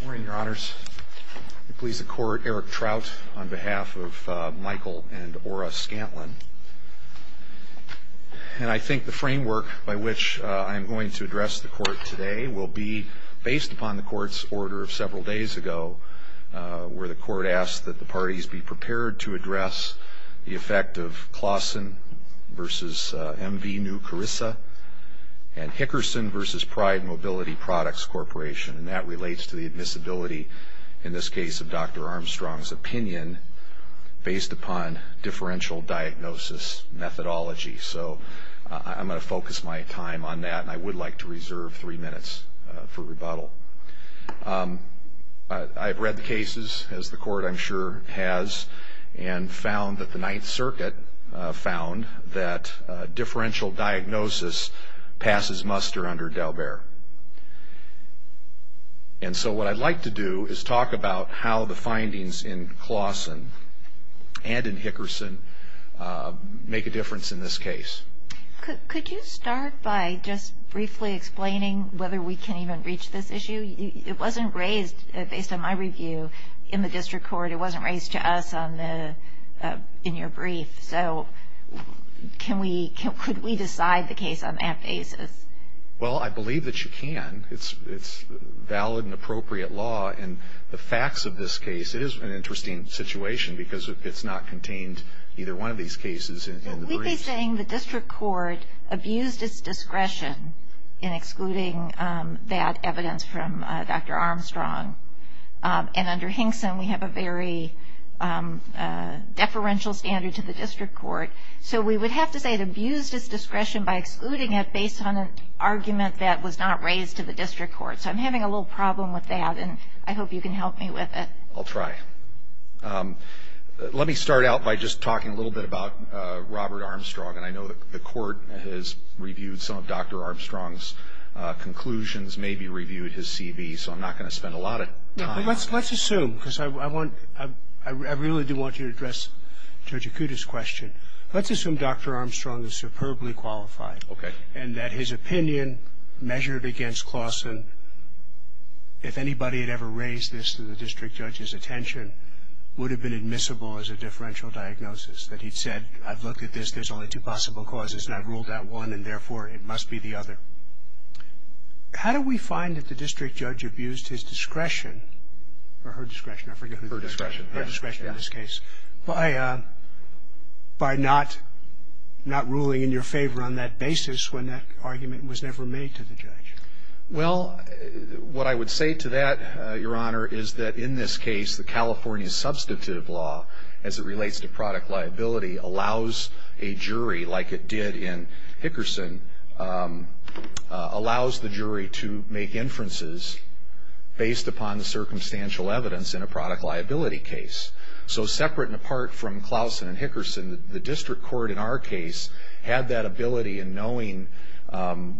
Good morning, Your Honors. I please the Court, Eric Trout, on behalf of Michael and Ora Scantlin. And I think the framework by which I am going to address the Court today will be based upon the Court's order of several days ago, where the Court asked that the parties be prepared to address the effect of Claussen v. M. V. New Carissa and Hickerson v. Pride Mobility Products Corporation. And that relates to the admissibility, in this case of Dr. Armstrong's opinion, based upon differential diagnosis methodology. So I'm going to focus my time on that, and I would like to reserve three minutes for rebuttal. I've read the cases, as the Court I'm sure has, and found that the Ninth Circuit found that differential diagnosis passes muster under D'Albert. And so what I'd like to do is talk about how the findings in Claussen and in Hickerson make a difference in this case. Could you start by just briefly explaining whether we can even reach this issue? It wasn't raised, based on my review, in the District Court. It wasn't raised to us in your brief. So could we decide the case on that basis? Well, I believe that you can. It's valid and appropriate law. And the facts of this case, it is an interesting situation, because it's not contained in either one of these cases in the brief. Well, would you be saying the District Court abused its discretion in excluding that evidence from Dr. Armstrong? And under Hickson, we have a very deferential standard to the District Court. So we would have to say it abused its discretion by excluding it based on an argument that was not raised to the District Court. So I'm having a little problem with that, and I hope you can help me with it. I'll try. Let me start out by just talking a little bit about Robert Armstrong. And I going to spend a lot of time on this. Well, let's assume, because I really do want you to address Judge Akuta's question. Let's assume Dr. Armstrong is superbly qualified, and that his opinion measured against Claussen, if anybody had ever raised this to the District Judge's attention, would have been admissible as a differential diagnosis. That he'd said, I've looked at this, there's only two possible causes, and I've ruled out one, and therefore it must be the other. How do we find that the District Judge abused his discretion, or her discretion, I forget who that is, her discretion in this case, by not ruling in your favor on that basis when that argument was never made to the judge? Well, what I would say to that, Your Honor, is that in this case, the California Substantive Law, as it relates to product liability, allows a jury, like it did in Hickerson, allows the jury to make inferences based upon the circumstantial evidence in a product liability case. So separate and apart from Claussen and Hickerson, the District Court in our case had that ability in knowing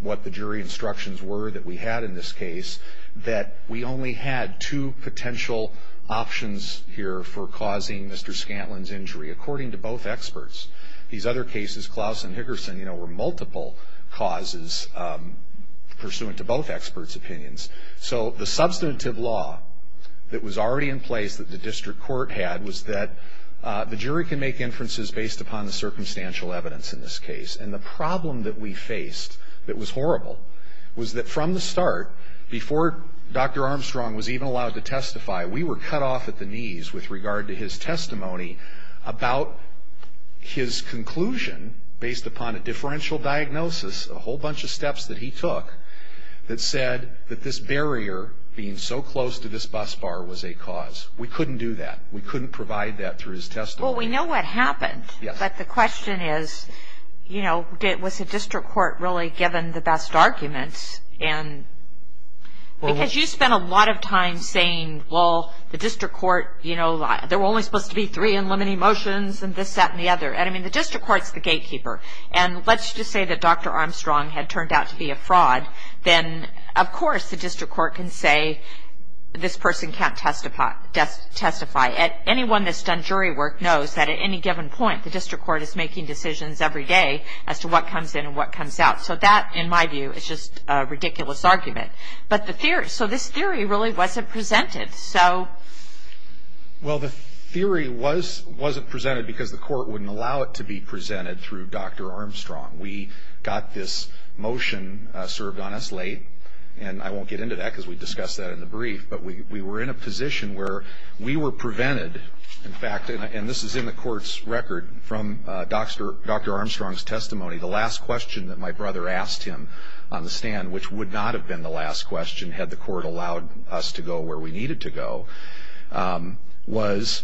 what the jury instructions were that we had in this case, that we only had two potential options here for causing Mr. Scantlin's injury, according to both experts. These other cases, Claussen and Hickerson, were multiple causes pursuant to both experts' opinions. So the Substantive Law that was already in place that the District Court had was that the jury can make inferences based upon the circumstantial evidence in this case. And the problem that we faced that was horrible was that from the start, before Dr. Armstrong was even allowed to testify, we were cut off at the knees with regard to his testimony about his conclusion based upon a differential diagnosis, a whole bunch of steps that he took, that said that this barrier being so close to this bus bar was a cause. We couldn't do that. We couldn't provide that through his testimony. Well, we know what happened, but the question is, you know, was the District Court really given the best arguments? Because you spent a lot of time saying, well, the District Court, you know, there were only supposed to be three unlimited motions, and this, that, and the other. I mean, the District Court's the gatekeeper. And let's just say that Dr. Armstrong had turned out to be a fraud, then of course the District Court can say this person can't testify. Anyone that's done jury work knows that at any given point, the District Court is making decisions every day as to what comes in and what comes out. So that, in my view, is just a ridiculous argument. But the theory, so this theory really wasn't presented, so. Well the theory was, wasn't presented because the Court wouldn't allow it to be presented through Dr. Armstrong. We got this motion served on us late, and I won't get into that because we discussed that in the brief, but we were in a position where we were prevented, in fact, and this is in the Court's record from Dr. Armstrong's testimony, the last question that my brother asked him on the stand, which would not have been the last question had the Court allowed us to go where we needed to go, was,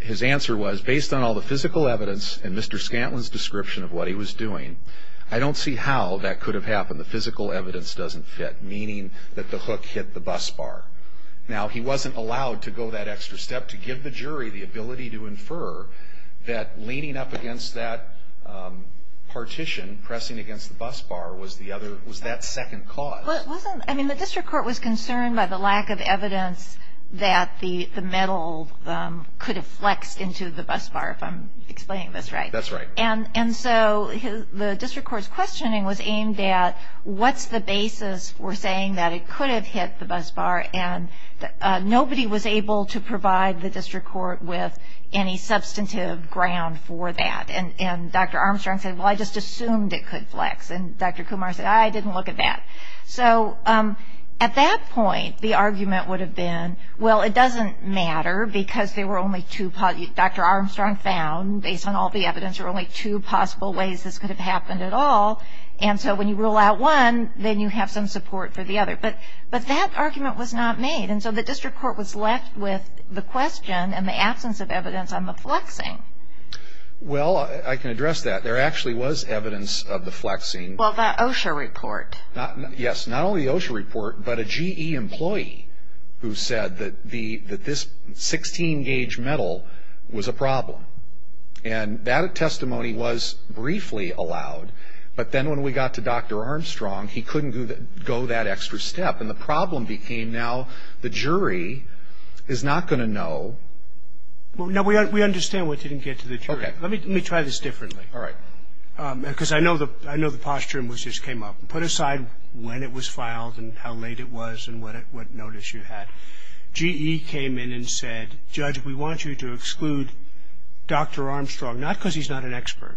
his answer was, based on all the physical evidence and Mr. Scantlin's description of what he was doing, I don't see how that the hook hit the bus bar. Now he wasn't allowed to go that extra step to give the jury the ability to infer that leaning up against that partition, pressing against the bus bar, was the other, was that second cause. Well it wasn't, I mean the District Court was concerned by the lack of evidence that the metal could have flexed into the bus bar, if I'm explaining this right. That's right. And so the District Court's questioning was aimed at what's the basis for saying that it could have hit the bus bar and nobody was able to provide the District Court with any substantive ground for that. And Dr. Armstrong said, well I just assumed it could flex. And Dr. Kumar said, I didn't look at that. So at that point the argument would have been, well it doesn't matter because there were only two, Dr. Armstrong found, based on all the evidence, there were only two possible ways this could have happened at all, and so when you rule out one, then you have some support for the other. But that argument was not made, and so the District Court was left with the question and the absence of evidence on the flexing. Well I can address that. There actually was evidence of the flexing. Well the OSHA report. Yes, not only the OSHA report, but a GE employee who said that this 16 gauge metal was a problem. And that testimony was briefly allowed, but then when we got to Dr. Armstrong, he couldn't go that extra step. And the problem became now the jury is not going to know. We understand we didn't get to the jury. Let me try this differently. All right. Because I know the posture in which this came up. Put aside when it was filed and how late it was and what notice you had. GE came in and said, Judge, we want you to exclude Dr. Armstrong, not because he's not an expert,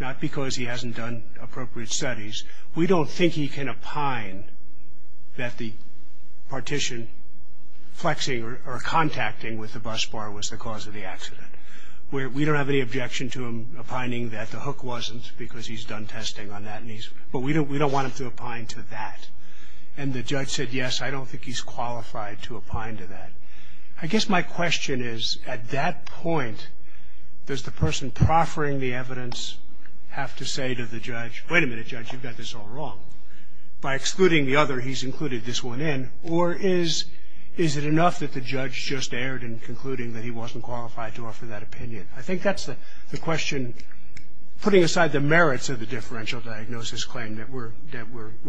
not because he hasn't done appropriate studies. We don't think he can opine that the partition flexing or contacting with the bus bar was the cause of the accident. We don't have any objection to him opining that the hook wasn't because he's done testing on that, but we don't want him to opine to that. And the judge said, yes, I don't think he's qualified to opine to that. I guess my question is, at that point, does the person proffering the evidence have to say to the judge, wait a minute, Judge, you've got this all wrong. By excluding the other, he's included this one in, or is it enough that the judge just erred in concluding that he wasn't qualified to offer that opinion? I think that's the question. Putting aside the merits of the differential diagnosis claim that we're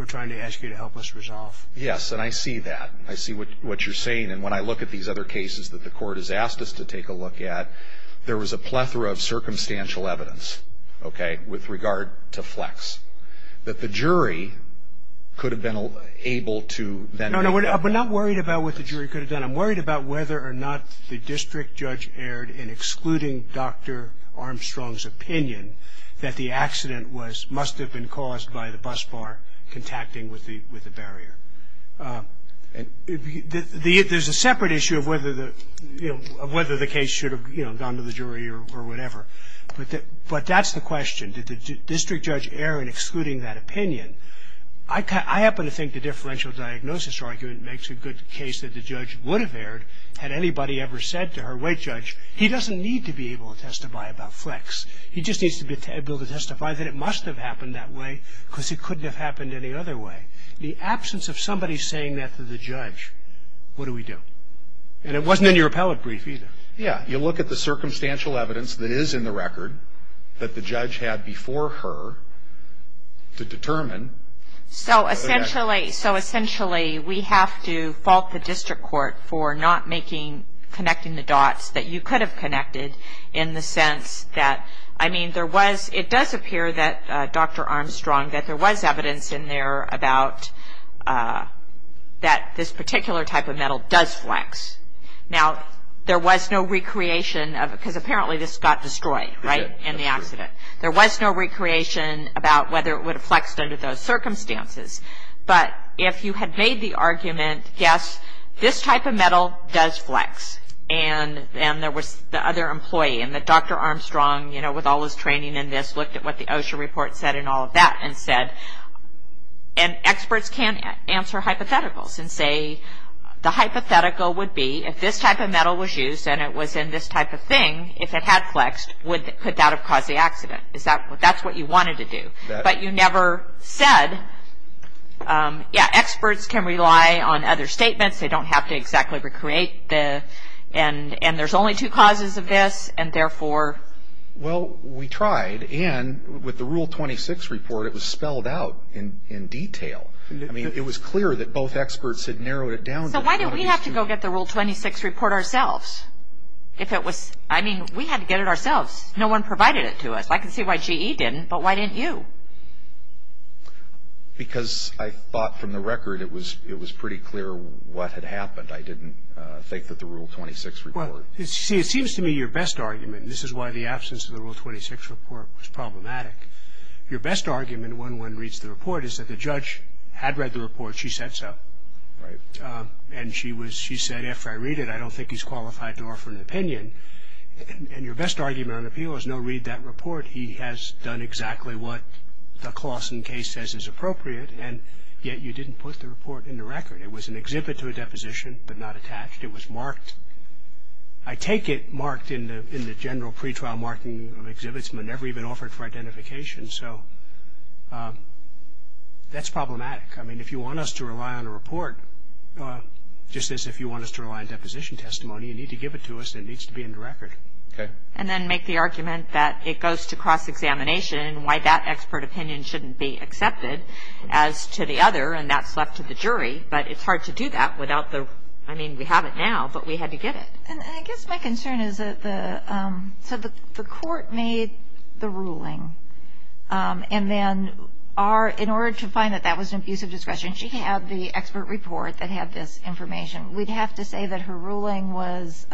trying to ask you to help us resolve. Yes, and I see that. I see what you're saying. And when I look at these other cases that the court has asked us to take a look at, there was a plethora of circumstantial evidence, okay, with regard to flex, that the jury could have been able to then make up. No, no, we're not worried about what the jury could have done. I'm worried about whether or not the district judge erred in excluding Dr. Armstrong's opinion that the accident must have been caused by the bus bar contacting with the barrier. There's a separate issue of whether the case should have gone to the jury or whatever. But that's the question. Did the district judge err in excluding that opinion? I happen to think the differential diagnosis argument makes a good case that the judge would have erred had anybody ever said to her, wait, Judge, he doesn't need to be able to testify about flex. He just needs to be able to testify that it must have happened that way because it couldn't have happened any other way. The absence of somebody saying that to the judge, what do we do? And it wasn't in your appellate brief either. Yeah, you look at the circumstantial evidence that is in the record that the judge had before her to determine whether that was the case. So essentially we have to fault the district court for not making, connecting the dots that you could have connected in the sense that, I mean, there was, it does appear that Dr. Armstrong, that there was evidence in there about that this particular type of metal does flex. Now, there was no recreation of, because apparently this got destroyed, right, in the accident. There was no recreation about whether it would have flexed under those circumstances. But if you had made the argument, yes, this type of metal does flex, and there was the other employee, and that Dr. Armstrong, you know, with all his training in this, looked at what the OSHA report said and all of that and said, and experts can't answer hypotheticals and say, the hypothetical would be if this type of metal was used and it was in this type of thing, if it had flexed, would, could that have caused the accident? Is that, that's what you wanted to do, but you never said, yeah, experts can rely on other statements. They don't have to exactly recreate the, and there's only two causes of this, and therefore. Well we tried, and with the Rule 26 report, it was spelled out in detail. I mean, it was clear that both experts had narrowed it down. So why did we have to go get the Rule 26 report ourselves? If it was, I mean, we had to get it ourselves. No one provided it to us. I can see why GE didn't, but why didn't you? Because I thought, from the record, it was, it was pretty clear what had happened. I didn't think that the Rule 26 report. Well, see, it seems to me your best argument, and this is why the absence of the Rule 26 report was problematic, your best argument when one reads the report is that the judge had read the report, she said so, and she was, she said, after I read it, I don't think he's qualified to offer an opinion, and your best argument on appeal is no, read that report. He has done exactly what the Clawson case says is appropriate, and yet you didn't put the report in the record. It was an exhibit to a deposition, but not attached. It was marked. I take it marked in the general pretrial marking of exhibits, but never even offered for identification. So that's problematic. I mean, if you want us to rely on a report, just as if you want us to rely on deposition testimony, you need to give it to us, and it needs to be in the record. And then make the argument that it goes to cross-examination, and why that expert opinion shouldn't be accepted as to the other, and that's left to the jury, but it's hard to do that without the, I mean, we have it now, but we had to get it. And I guess my concern is that the, so the Court made the ruling, and then our, in order to find that that was an abuse of discretion, she had the expert report that had this information. We'd have to say that her ruling was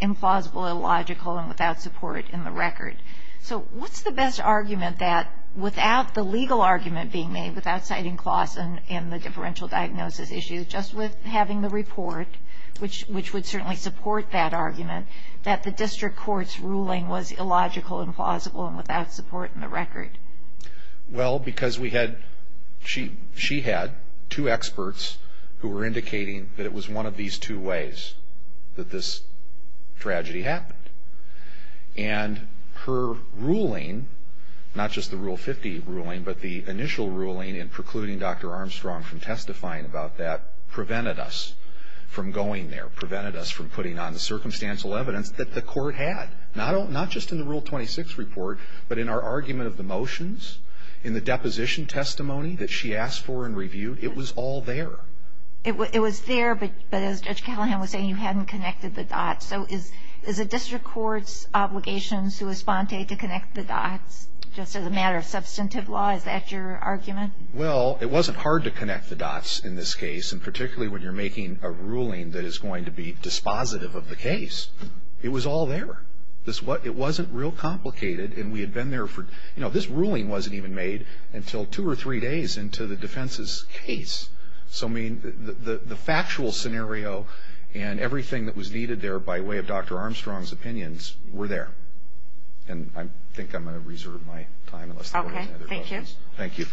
implausible, illogical, and without support in the record. So what's the best argument that, without the legal argument being made, without citing Closs and the differential diagnosis issue, just with having the report, which would certainly support that argument, that the District Court's ruling was illogical, implausible, and without support in the record? Well, because we had, she had two experts who were indicating that it was one of these two ways that this tragedy happened. And her ruling, not just the Rule 50 ruling, but the initial ruling in precluding Dr. Armstrong from testifying about that, prevented us from going there, prevented us from putting on the circumstantial evidence that the Court had, not just in the Rule 26 report, but in our argument of the motions, in the deposition testimony that she asked for and reviewed. It was all there. It was there, but as Judge Callahan was saying, you hadn't connected the dots. So is a District Court's obligation sui sponte to connect the dots, just as a matter of substantive law? Is that your argument? Well, it wasn't hard to connect the dots in this case, and particularly when you're making a ruling that is going to be dispositive of the case. It was all there. It wasn't real complicated, and we had been there for, you know, this ruling wasn't even made until two or three days into the defense's case. So I mean, the factual scenario and everything that was needed there by way of Dr. Armstrong's opinions were there. And I think I'm going to reserve my time unless the Court has any other questions. Okay. Thank you.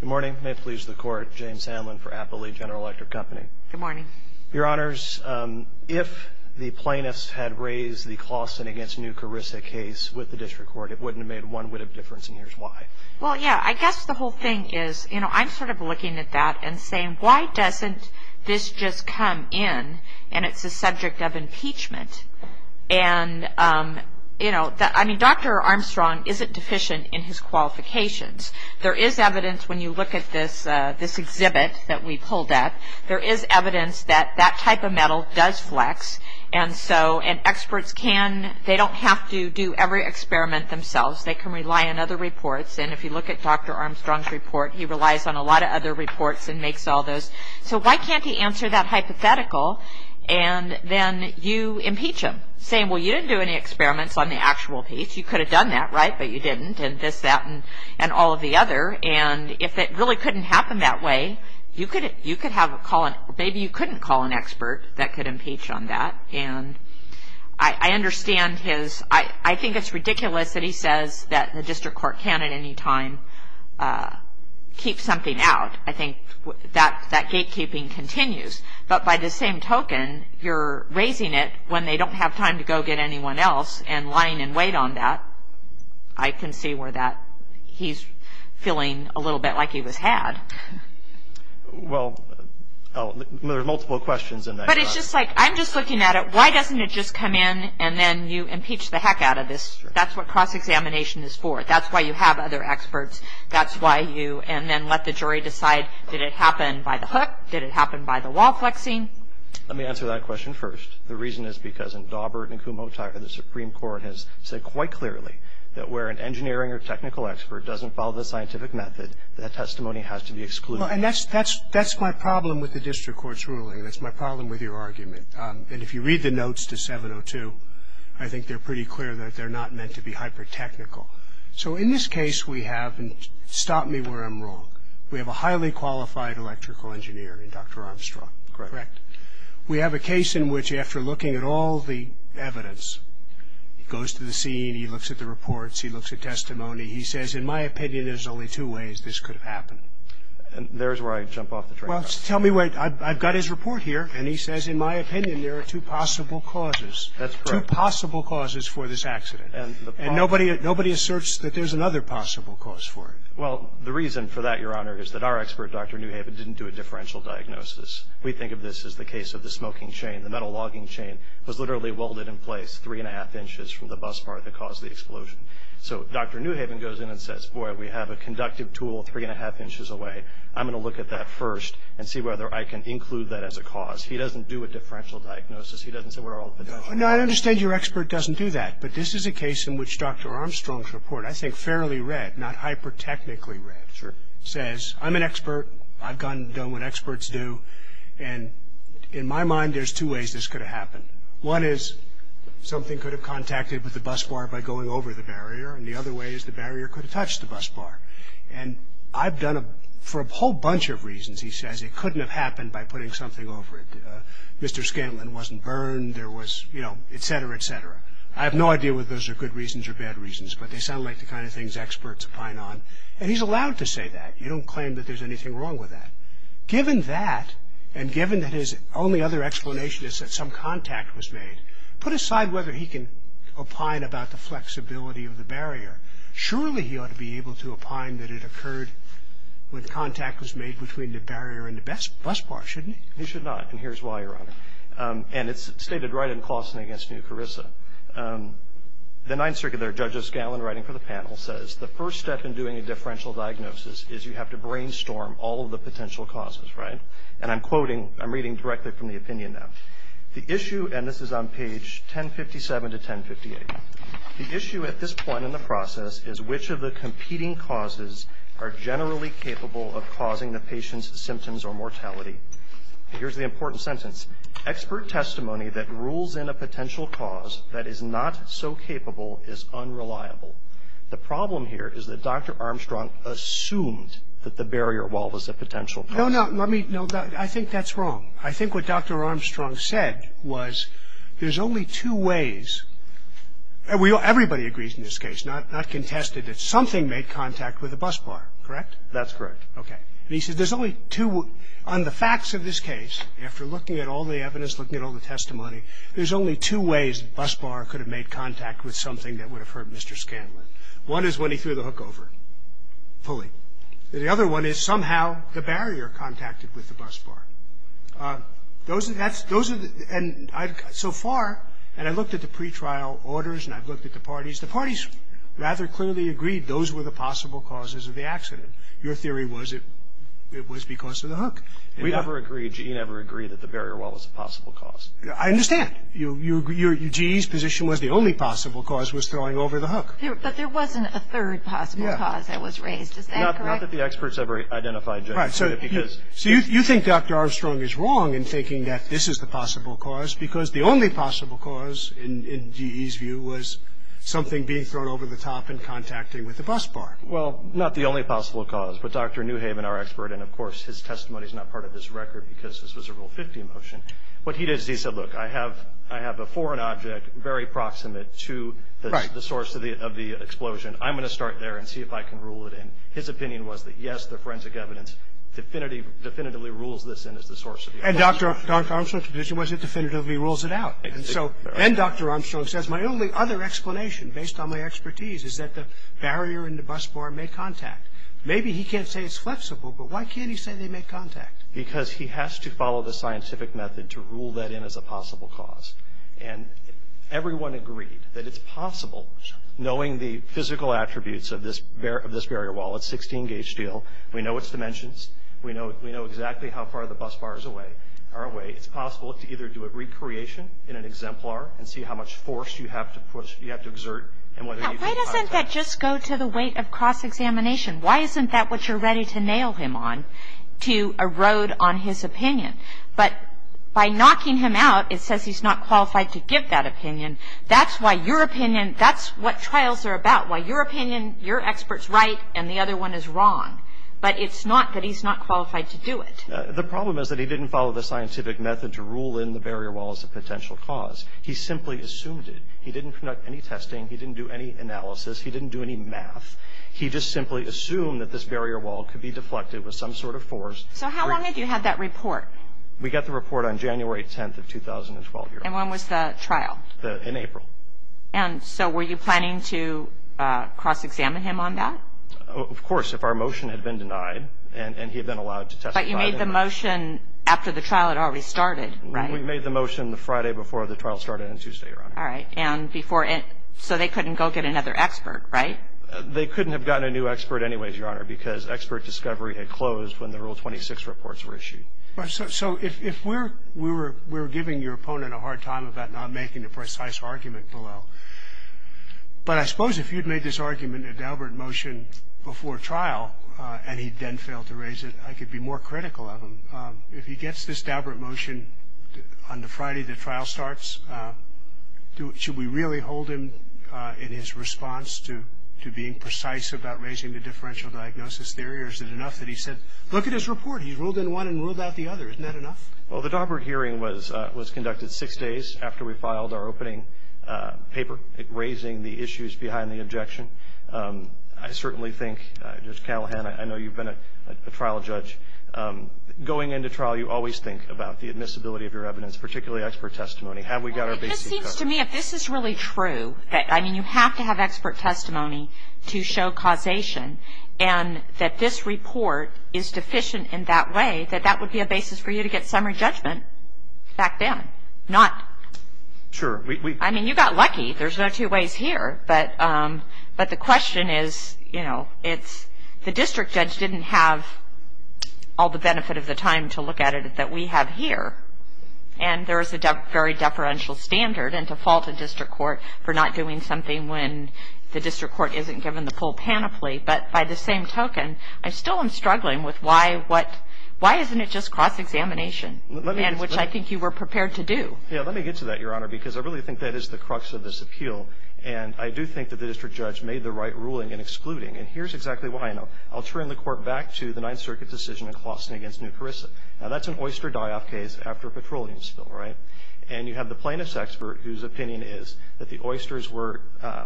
Good morning. May it please the Court. James Hanlon for Appley General Electric Company. Good morning. Your Honors, if the plaintiffs had raised the Clauston v. New Carissa case with the District Court, it wouldn't have made one witt of difference, and here's why. Well, yeah. I guess the whole thing is, you know, I'm sort of looking at that and saying, why doesn't this just come in, and it's a subject of impeachment? And you know, I mean, Dr. Armstrong isn't deficient in his qualifications. There is evidence, when you look at this exhibit that we pulled at, there is evidence that that type of metal does flex, and so, and experts can, they don't have to do every experiment themselves. They can rely on other reports. And if you look at Dr. Armstrong's report, he relies on a lot of other reports and makes all those. So why can't he answer that hypothetical, and then you impeach him, saying, well, you didn't do any experiments on the actual piece. You could have done that, right, but you didn't, and this, that, and all of the other. And if it really couldn't happen that way, you could have a call, or maybe you couldn't call an expert that could impeach on that, and I understand his, I think it's ridiculous that he says that the District Court can't at any time keep something out. I think that gatekeeping continues, but by the same token, you're raising it when they don't have time to go get anyone else, and lying in wait on that, I can see where that, he's feeling a little bit like he was had. Well, there are multiple questions in that. But it's just like, I'm just looking at it. Why doesn't it just come in, and then you impeach the heck out of this? That's what cross-examination is for. That's why you have other experts. That's why you, and then let the jury decide, did it happen by the hook, did it happen by the wall flexing? Let me answer that question first. The reason is because in Daubert and Kumho, the Supreme Court has said quite clearly that where an engineering or technical expert doesn't follow the scientific method, that testimony has to be excluded. Well, and that's my problem with the District Court's ruling, and that's my problem with your argument. And if you read the notes to 702, I think they're pretty clear that they're not meant to be hyper-technical. So, in this case, we have, and stop me where I'm wrong, we have a highly qualified electrical engineer in Dr. Armstrong. Correct. We have a case in which, after looking at all the evidence, he goes to the scene, he looks at the reports, he looks at testimony, he says, in my opinion, there's only two ways this could have happened. And there's where I jump off the train wreck. Well, tell me where, I've got his report here. And he says, in my opinion, there are two possible causes. That's correct. Two possible causes for this accident. And nobody asserts that there's another possible cause for it. Well, the reason for that, Your Honor, is that our expert, Dr. Newhaven, didn't do a differential diagnosis. We think of this as the case of the smoking chain. The metal logging chain was literally welded in place three and a half inches from the bus part that caused the explosion. So, Dr. Newhaven goes in and says, boy, we have a conductive tool three and a half inches away. I'm going to look at that first and see whether I can include that as a cause. He doesn't do a differential diagnosis. He doesn't say where all the potential is. No, I understand your expert doesn't do that. But this is a case in which Dr. Armstrong's report, I think fairly read, not hyper-technically says, I'm an expert. I've done what experts do. And in my mind, there's two ways this could have happened. One is something could have contacted with the bus bar by going over the barrier. And the other way is the barrier could have touched the bus bar. And I've done it for a whole bunch of reasons, he says. It couldn't have happened by putting something over it. Mr. Scanlon wasn't burned. There was, you know, et cetera, et cetera. I have no idea whether those are good reasons or bad reasons. But they sound like the kind of things experts pine on. And he's allowed to say that. You don't claim that there's anything wrong with that. Given that, and given that his only other explanation is that some contact was made, put aside whether he can opine about the flexibility of the barrier. Surely he ought to be able to opine that it occurred when contact was made between the barrier and the bus bar, shouldn't he? He should not. And here's why, Your Honor. And it's stated right in Claussen against New Carissa. The Ninth Circuit there, Judge Scanlon writing for the panel, says the first step in doing a differential diagnosis is you have to brainstorm all of the potential causes, right? And I'm quoting, I'm reading directly from the opinion now. The issue, and this is on page 1057 to 1058, the issue at this point in the process is which of the competing causes are generally capable of causing the patient's symptoms or mortality. Here's the important sentence. Expert testimony that rules in a potential cause that is not so capable is unreliable. The problem here is that Dr. Armstrong assumed that the barrier wall was a potential cause. No, no. Let me, no. I think that's wrong. I think what Dr. Armstrong said was there's only two ways. Everybody agrees in this case, not contested, that something made contact with the bus bar, correct? That's correct. Okay. And he said there's only two. On the facts of this case, after looking at all the evidence, looking at all the testimony, there's only two ways the bus bar could have made contact with something that would have hurt Mr. Scanlon. One is when he threw the hookover pulley. The other one is somehow the barrier contacted with the bus bar. Those are the, and so far, and I looked at the pretrial orders and I've looked at the parties, the parties rather clearly agreed those were the possible causes of the accident. Your theory was it was because of the hook. We never agreed. GE never agreed that the barrier wall was a possible cause. I understand. GE's position was the only possible cause was throwing over the hook. But there wasn't a third possible cause that was raised. Is that correct? Not that the experts ever identified. Right. So you think Dr. Armstrong is wrong in thinking that this is the possible cause because the only possible cause, in GE's view, was something being thrown over the top and contacting with the bus bar. Well, not the only possible cause, but Dr. Newhaven, our expert, and of course his testimony is not part of this record because this was a Rule 50 motion. What he did is he said, look, I have a foreign object very proximate to the source of the explosion. I'm going to start there and see if I can rule it in. His opinion was that, yes, the forensic evidence definitively rules this in as the source of the explosion. And Dr. Armstrong's position was it definitively rules it out. And so then Dr. Armstrong says, My only other explanation, based on my expertise, is that the barrier and the bus bar make contact. Maybe he can't say it's flexible, but why can't he say they make contact? Because he has to follow the scientific method to rule that in as a possible cause. And everyone agreed that it's possible, knowing the physical attributes of this barrier wall. It's 16-gauge steel. We know its dimensions. We know exactly how far the bus bars are away. And we know that it's possible to either do a recreation in an exemplar and see how much force you have to exert and whether you can contact. Now, why doesn't that just go to the weight of cross-examination? Why isn't that what you're ready to nail him on, to erode on his opinion? But by knocking him out, it says he's not qualified to give that opinion. That's why your opinion, that's what trials are about, why your opinion, your expert's right and the other one is wrong. But it's not that he's not qualified to do it. The problem is that he didn't follow the scientific method to rule in the barrier wall as a potential cause. He simply assumed it. He didn't conduct any testing. He didn't do any analysis. He didn't do any math. He just simply assumed that this barrier wall could be deflected with some sort of force. So how long did you have that report? We got the report on January 10th of 2012. And when was the trial? In April. And so were you planning to cross-examine him on that? Of course, if our motion had been denied and he had been allowed to testify. But you made the motion after the trial had already started, right? We made the motion the Friday before the trial started and Tuesday, Your Honor. All right. And before so they couldn't go get another expert, right? They couldn't have gotten a new expert anyways, Your Honor, because expert discovery had closed when the Rule 26 reports were issued. So if we're giving your opponent a hard time about not making a precise argument below, but I suppose if you'd made this argument a deliberate motion before trial and he then failed to raise it, I could be more critical of him. If he gets this deliberate motion on the Friday the trial starts, should we really hold him in his response to being precise about raising the differential diagnosis theory or is it enough that he said, look at his report. He's ruled in one and ruled out the other. Isn't that enough? Well, the deliberate hearing was conducted six days after we filed our opening paper raising the issues behind the objection. I certainly think, Judge Callahan, I know you've been a trial judge. Going into trial, you always think about the admissibility of your evidence, particularly expert testimony. Have we got our basis correct? Well, it just seems to me if this is really true, that, I mean, you have to have expert testimony to show causation, and that this report is deficient in that way, that that would be a basis for you to get summary judgment back then. Sure. I mean, you got lucky. There's no two ways here. But the question is, you know, it's the district judge didn't have all the benefit of the time to look at it that we have here, and there is a very deferential standard and to fault a district court for not doing something when the district court isn't given the full panoply. But by the same token, I still am struggling with why isn't it just cross-examination, which I think you were prepared to do. Yeah, let me get to that, Your Honor, because I really think that is the crux of this appeal, and I do think that the district judge made the right ruling in excluding, and here's exactly why, you know. I'll turn the court back to the Ninth Circuit decision in Clawson against New Carissa. Now, that's an oyster die-off case after a petroleum spill, right? And you have the plaintiff's expert whose opinion is that the oysters were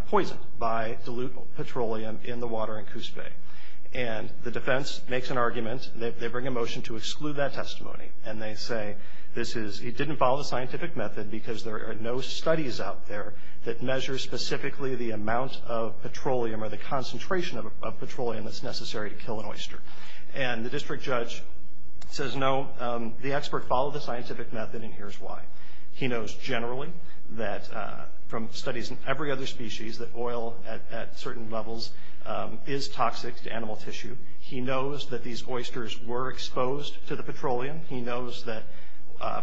poisoned by dilute petroleum in the water in Coos Bay. And the defense makes an argument. They bring a motion to exclude that testimony, and they say this is, it didn't follow the scientific method because there are no studies out there that measure specifically the amount of petroleum or the concentration of petroleum that's necessary to kill an oyster. And the district judge says no, the expert followed the scientific method, and here's why. He knows generally that from studies in every other species that oil at certain levels is toxic to animal tissue. He knows that these oysters were exposed to the petroleum. He knows that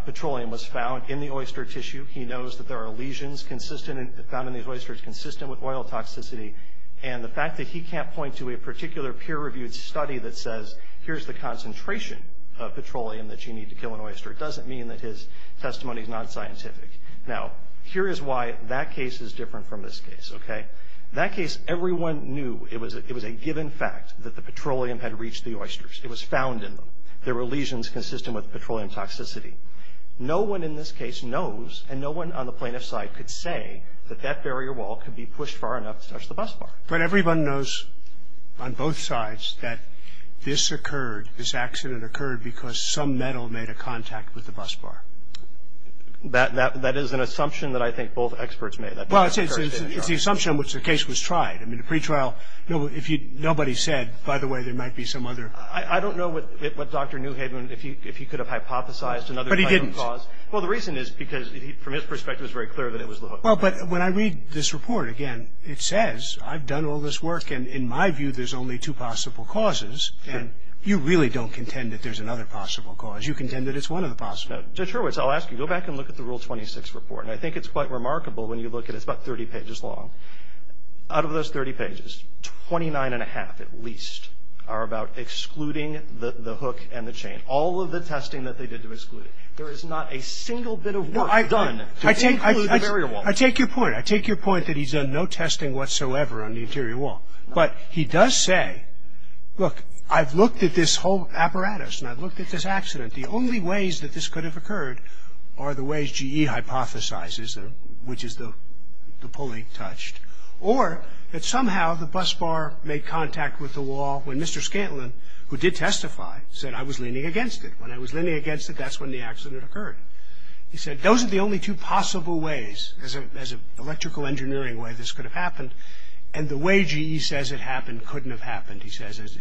petroleum was found in the oyster tissue. He knows that there are lesions found in these oysters consistent with oil toxicity. And the fact that he can't point to a particular peer-reviewed study that says, here's the concentration of petroleum that you need to kill an oyster, doesn't mean that his testimony is non-scientific. Now, here is why that case is different from this case, okay? That case, everyone knew it was a given fact that the petroleum had reached the oysters. It was found in them. There were lesions consistent with petroleum toxicity. No one in this case knows, and no one on the plaintiff's side could say, that that barrier wall could be pushed far enough to touch the bus bar. But everyone knows on both sides that this occurred, this accident occurred, because some metal made a contact with the bus bar. That is an assumption that I think both experts made. Well, it's the assumption in which the case was tried. I mean, the pretrial, nobody said, by the way, there might be some other. I don't know what Dr. Newhaven, if he could have hypothesized another cause. But he didn't. Well, the reason is because, from his perspective, it was very clear that it was the hook. Well, but when I read this report, again, it says, I've done all this work, and in my view, there's only two possible causes. And you really don't contend that there's another possible cause. You contend that it's one of the possible. Judge Hurwitz, I'll ask you, go back and look at the Rule 26 report, and I think it's quite remarkable when you look at it. It's about 30 pages long. Out of those 30 pages, 29 1⁄2, at least, are about excluding the hook and the chain. All of the testing that they did to exclude it. There is not a single bit of work done to exclude the barrier wall. I take your point. I take your point that he's done no testing whatsoever on the interior wall. But he does say, look, I've looked at this whole apparatus, and I've looked at this accident. The only ways that this could have occurred are the ways G.E. hypothesizes, which is the pulley touched, or that somehow the bus bar made contact with the wall when Mr. Scantlin, who did testify, said, I was leaning against it. When I was leaning against it, that's when the accident occurred. He said, those are the only two possible ways, as an electrical engineering way, this could have happened, and the way G.E. says it happened couldn't have happened, he says.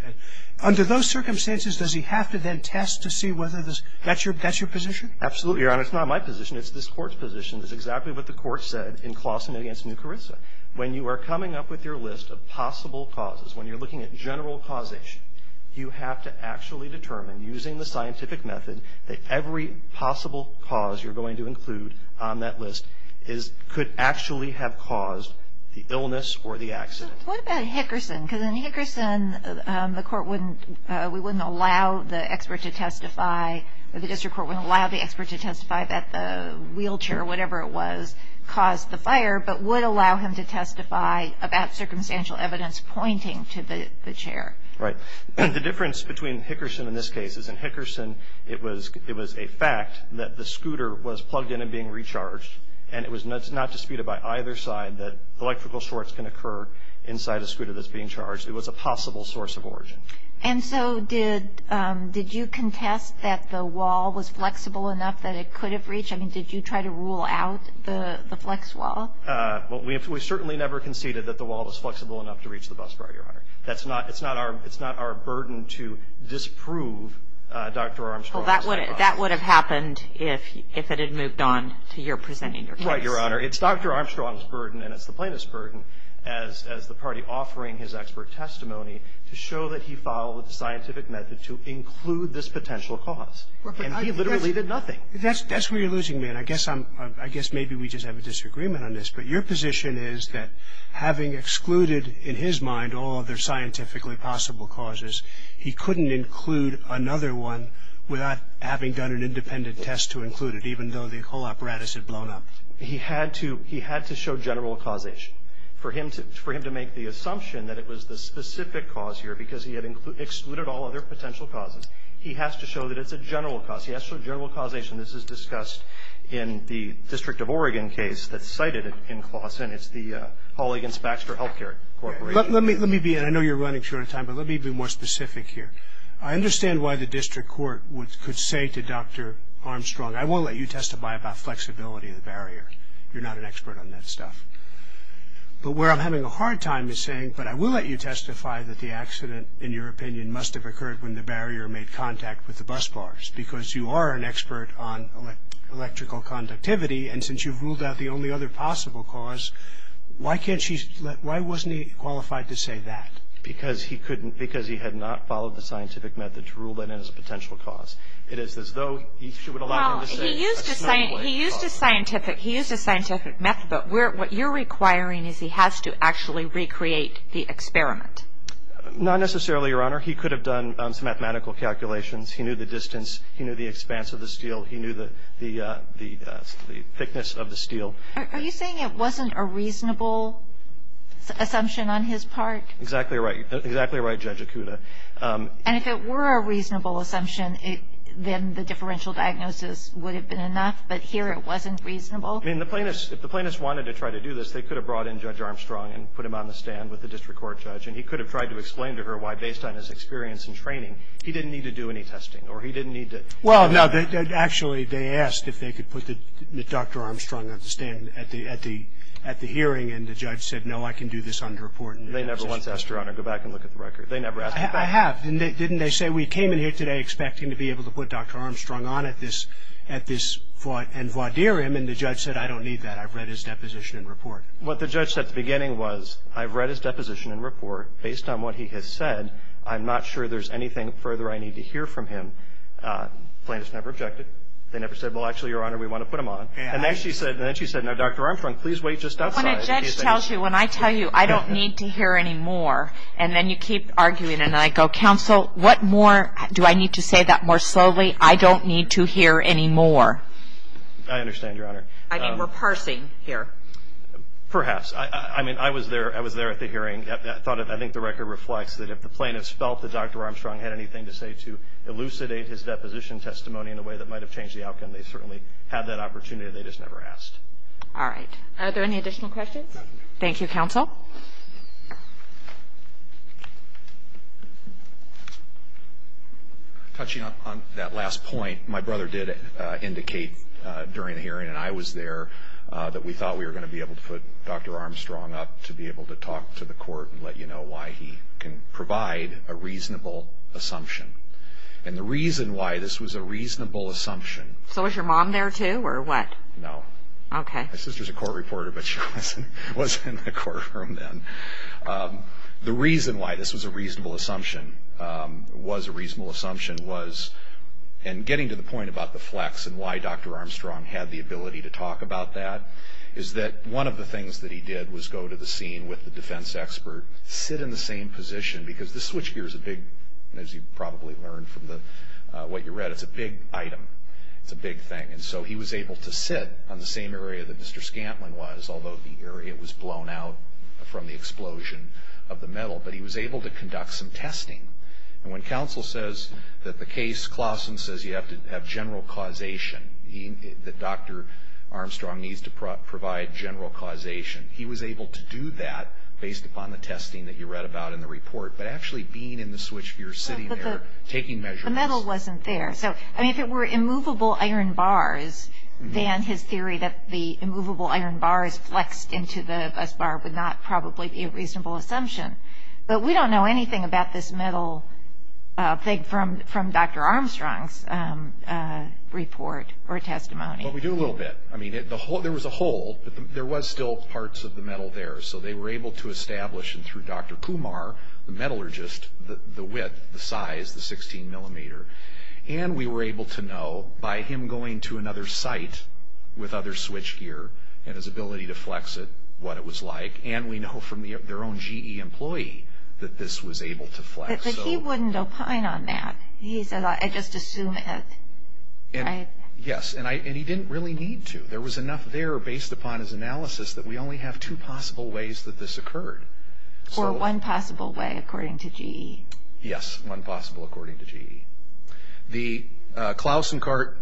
Under those circumstances, does he have to then test to see whether that's your position? Absolutely, Your Honor. It's not my position. It's this Court's position. It's exactly what the Court said in Claussen v. Nucarissa. When you are coming up with your list of possible causes, when you're looking at general causation, you have to actually determine, using the scientific method, that every possible cause you're going to include on that list could actually have caused the illness or the accident. What about Hickerson? Because in Hickerson, the District Court wouldn't allow the expert to testify that the wheelchair, or whatever it was, caused the fire, but would allow him to testify about circumstantial evidence pointing to the chair. Right. The difference between Hickerson in this case is, in Hickerson, it was a fact that the scooter was plugged in and being recharged, and it was not disputed by either side that electrical shorts can occur inside a scooter that's being charged. It was a possible source of origin. And so did you contest that the wall was flexible enough that it could have reached? I mean, did you try to rule out the flex wall? Well, we certainly never conceded that the wall was flexible enough to reach the bus driver, Your Honor. It's not our burden to disprove Dr. Armstrong's hypothesis. Well, that would have happened if it had moved on to your presenting your case. Right, Your Honor. It's Dr. Armstrong's burden, and it's the plaintiff's burden, as the party offering his expert testimony to show that he followed the scientific method to include this potential cause. And he literally did nothing. That's where you're losing me, and I guess maybe we just have a disagreement on this, but your position is that having excluded, in his mind, all other scientifically possible causes, he couldn't include another one without having done an independent test to include it, even though the whole apparatus had blown up. He had to show general causation. For him to make the assumption that it was the specific cause here, because he had excluded all other potential causes, he has to show that it's a general cause. He has to show general causation. This is discussed in the District of Oregon case that's cited in Claussen. It's the Hall v. Baxter Health Care Corporation. Let me be, and I know you're running short of time, but let me be more specific here. I understand why the district court could say to Dr. Armstrong, I won't let you testify about flexibility of the barrier. You're not an expert on that stuff. But where I'm having a hard time is saying, but I will let you testify that the accident, in your opinion, must have occurred when the barrier made contact with the bus bars, because you are an expert on electrical conductivity, and since you've ruled out the only other possible cause, why can't she, why wasn't he qualified to say that? Because he couldn't, because he had not followed the scientific method to rule that in as a potential cause. It is as though she would allow him to say a small way. Well, he used a scientific method, but what you're requiring is he has to actually recreate the experiment. Not necessarily, Your Honor. He could have done some mathematical calculations. He knew the distance. He knew the expanse of the steel. He knew the thickness of the steel. Are you saying it wasn't a reasonable assumption on his part? Exactly right. Exactly right, Judge Akuta. And if it were a reasonable assumption, then the differential diagnosis would have been enough, but here it wasn't reasonable? I mean, if the plaintiffs wanted to try to do this, they could have brought in Judge Armstrong and put him on the stand with the district court judge, and he could have tried to explain to her why, based on his experience and training, he didn't need to do any testing or he didn't need to do that. Well, no, actually, they asked if they could put Dr. Armstrong on the stand at the hearing, and the judge said, no, I can do this under report. They never once asked, Your Honor, to go back and look at the record. They never asked that question. I have. Didn't they say, we came in here today expecting to be able to put Dr. Armstrong on at this and voir dire him, and the judge said, I don't need that. I've read his deposition and report. What the judge said at the beginning was, I've read his deposition and report. Based on what he has said, I'm not sure there's anything further I need to hear from him. The plaintiffs never objected. They never said, well, actually, Your Honor, we want to put him on. And then she said, now, Dr. Armstrong, please wait just outside. When a judge tells you, when I tell you, I don't need to hear any more, and then you keep arguing, and I go, Counsel, what more do I need to say that more slowly? I don't need to hear any more. I understand, Your Honor. I mean, we're parsing here. Perhaps. I mean, I was there at the hearing. I think the record reflects that if the plaintiffs felt that Dr. Armstrong had anything to say to elucidate his deposition testimony in a way that might have changed the outcome, they certainly had that opportunity. They just never asked. All right. Are there any additional questions? Thank you, Counsel. Touching on that last point, my brother did indicate during the hearing, and I was there, that we thought we were going to be able to put Dr. Armstrong up to be able to talk to the court and let you know why he can provide a reasonable assumption. And the reason why this was a reasonable assumption. So was your mom there, too, or what? No. Okay. My sister's a court reporter, but she wasn't in the courtroom then. The reason why this was a reasonable assumption was, and getting to the point about the flex and why Dr. Armstrong had the ability to talk about that, is that one of the things that he did was go to the scene with the defense expert, sit in the same position, because the switch gear is a big, as you probably learned from what you read, it's a big item. It's a big thing. And so he was able to sit on the same area that Mr. Scantlin was, although the area was blown out from the explosion of the metal. But he was able to conduct some testing. And when counsel says that the case, Clausen says you have to have general causation, that Dr. Armstrong needs to provide general causation, he was able to do that based upon the testing that you read about in the report, but actually being in the switch gear, sitting there, taking measurements. The metal wasn't there. So if it were immovable iron bars, then his theory that the immovable iron bars flexed into the bus bar would not probably be a reasonable assumption. But we don't know anything about this metal thing from Dr. Armstrong's report or testimony. Well, we do a little bit. I mean, there was a hole, but there was still parts of the metal there. So they were able to establish, and through Dr. Kumar, the metallurgist, the width, the size, the 16 millimeter. And we were able to know by him going to another site with other switch gear and his ability to flex it, what it was like. And we know from their own GE employee that this was able to flex. But he wouldn't opine on that. He said, I just assume it. Yes, and he didn't really need to. There was enough there based upon his analysis that we only have two possible ways that this occurred. Or one possible way according to GE. Yes, one possible according to GE. Klausenkart,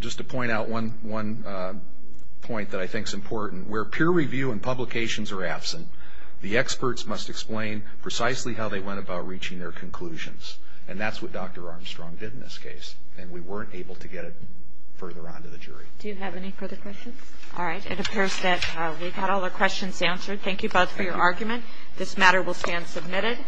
just to point out one point that I think is important, where peer review and publications are absent, the experts must explain precisely how they went about reaching their conclusions. And that's what Dr. Armstrong did in this case. And we weren't able to get it further on to the jury. Do you have any further questions? All right. It appears that we've got all our questions answered. Thank you both for your argument. This matter will stand submitted.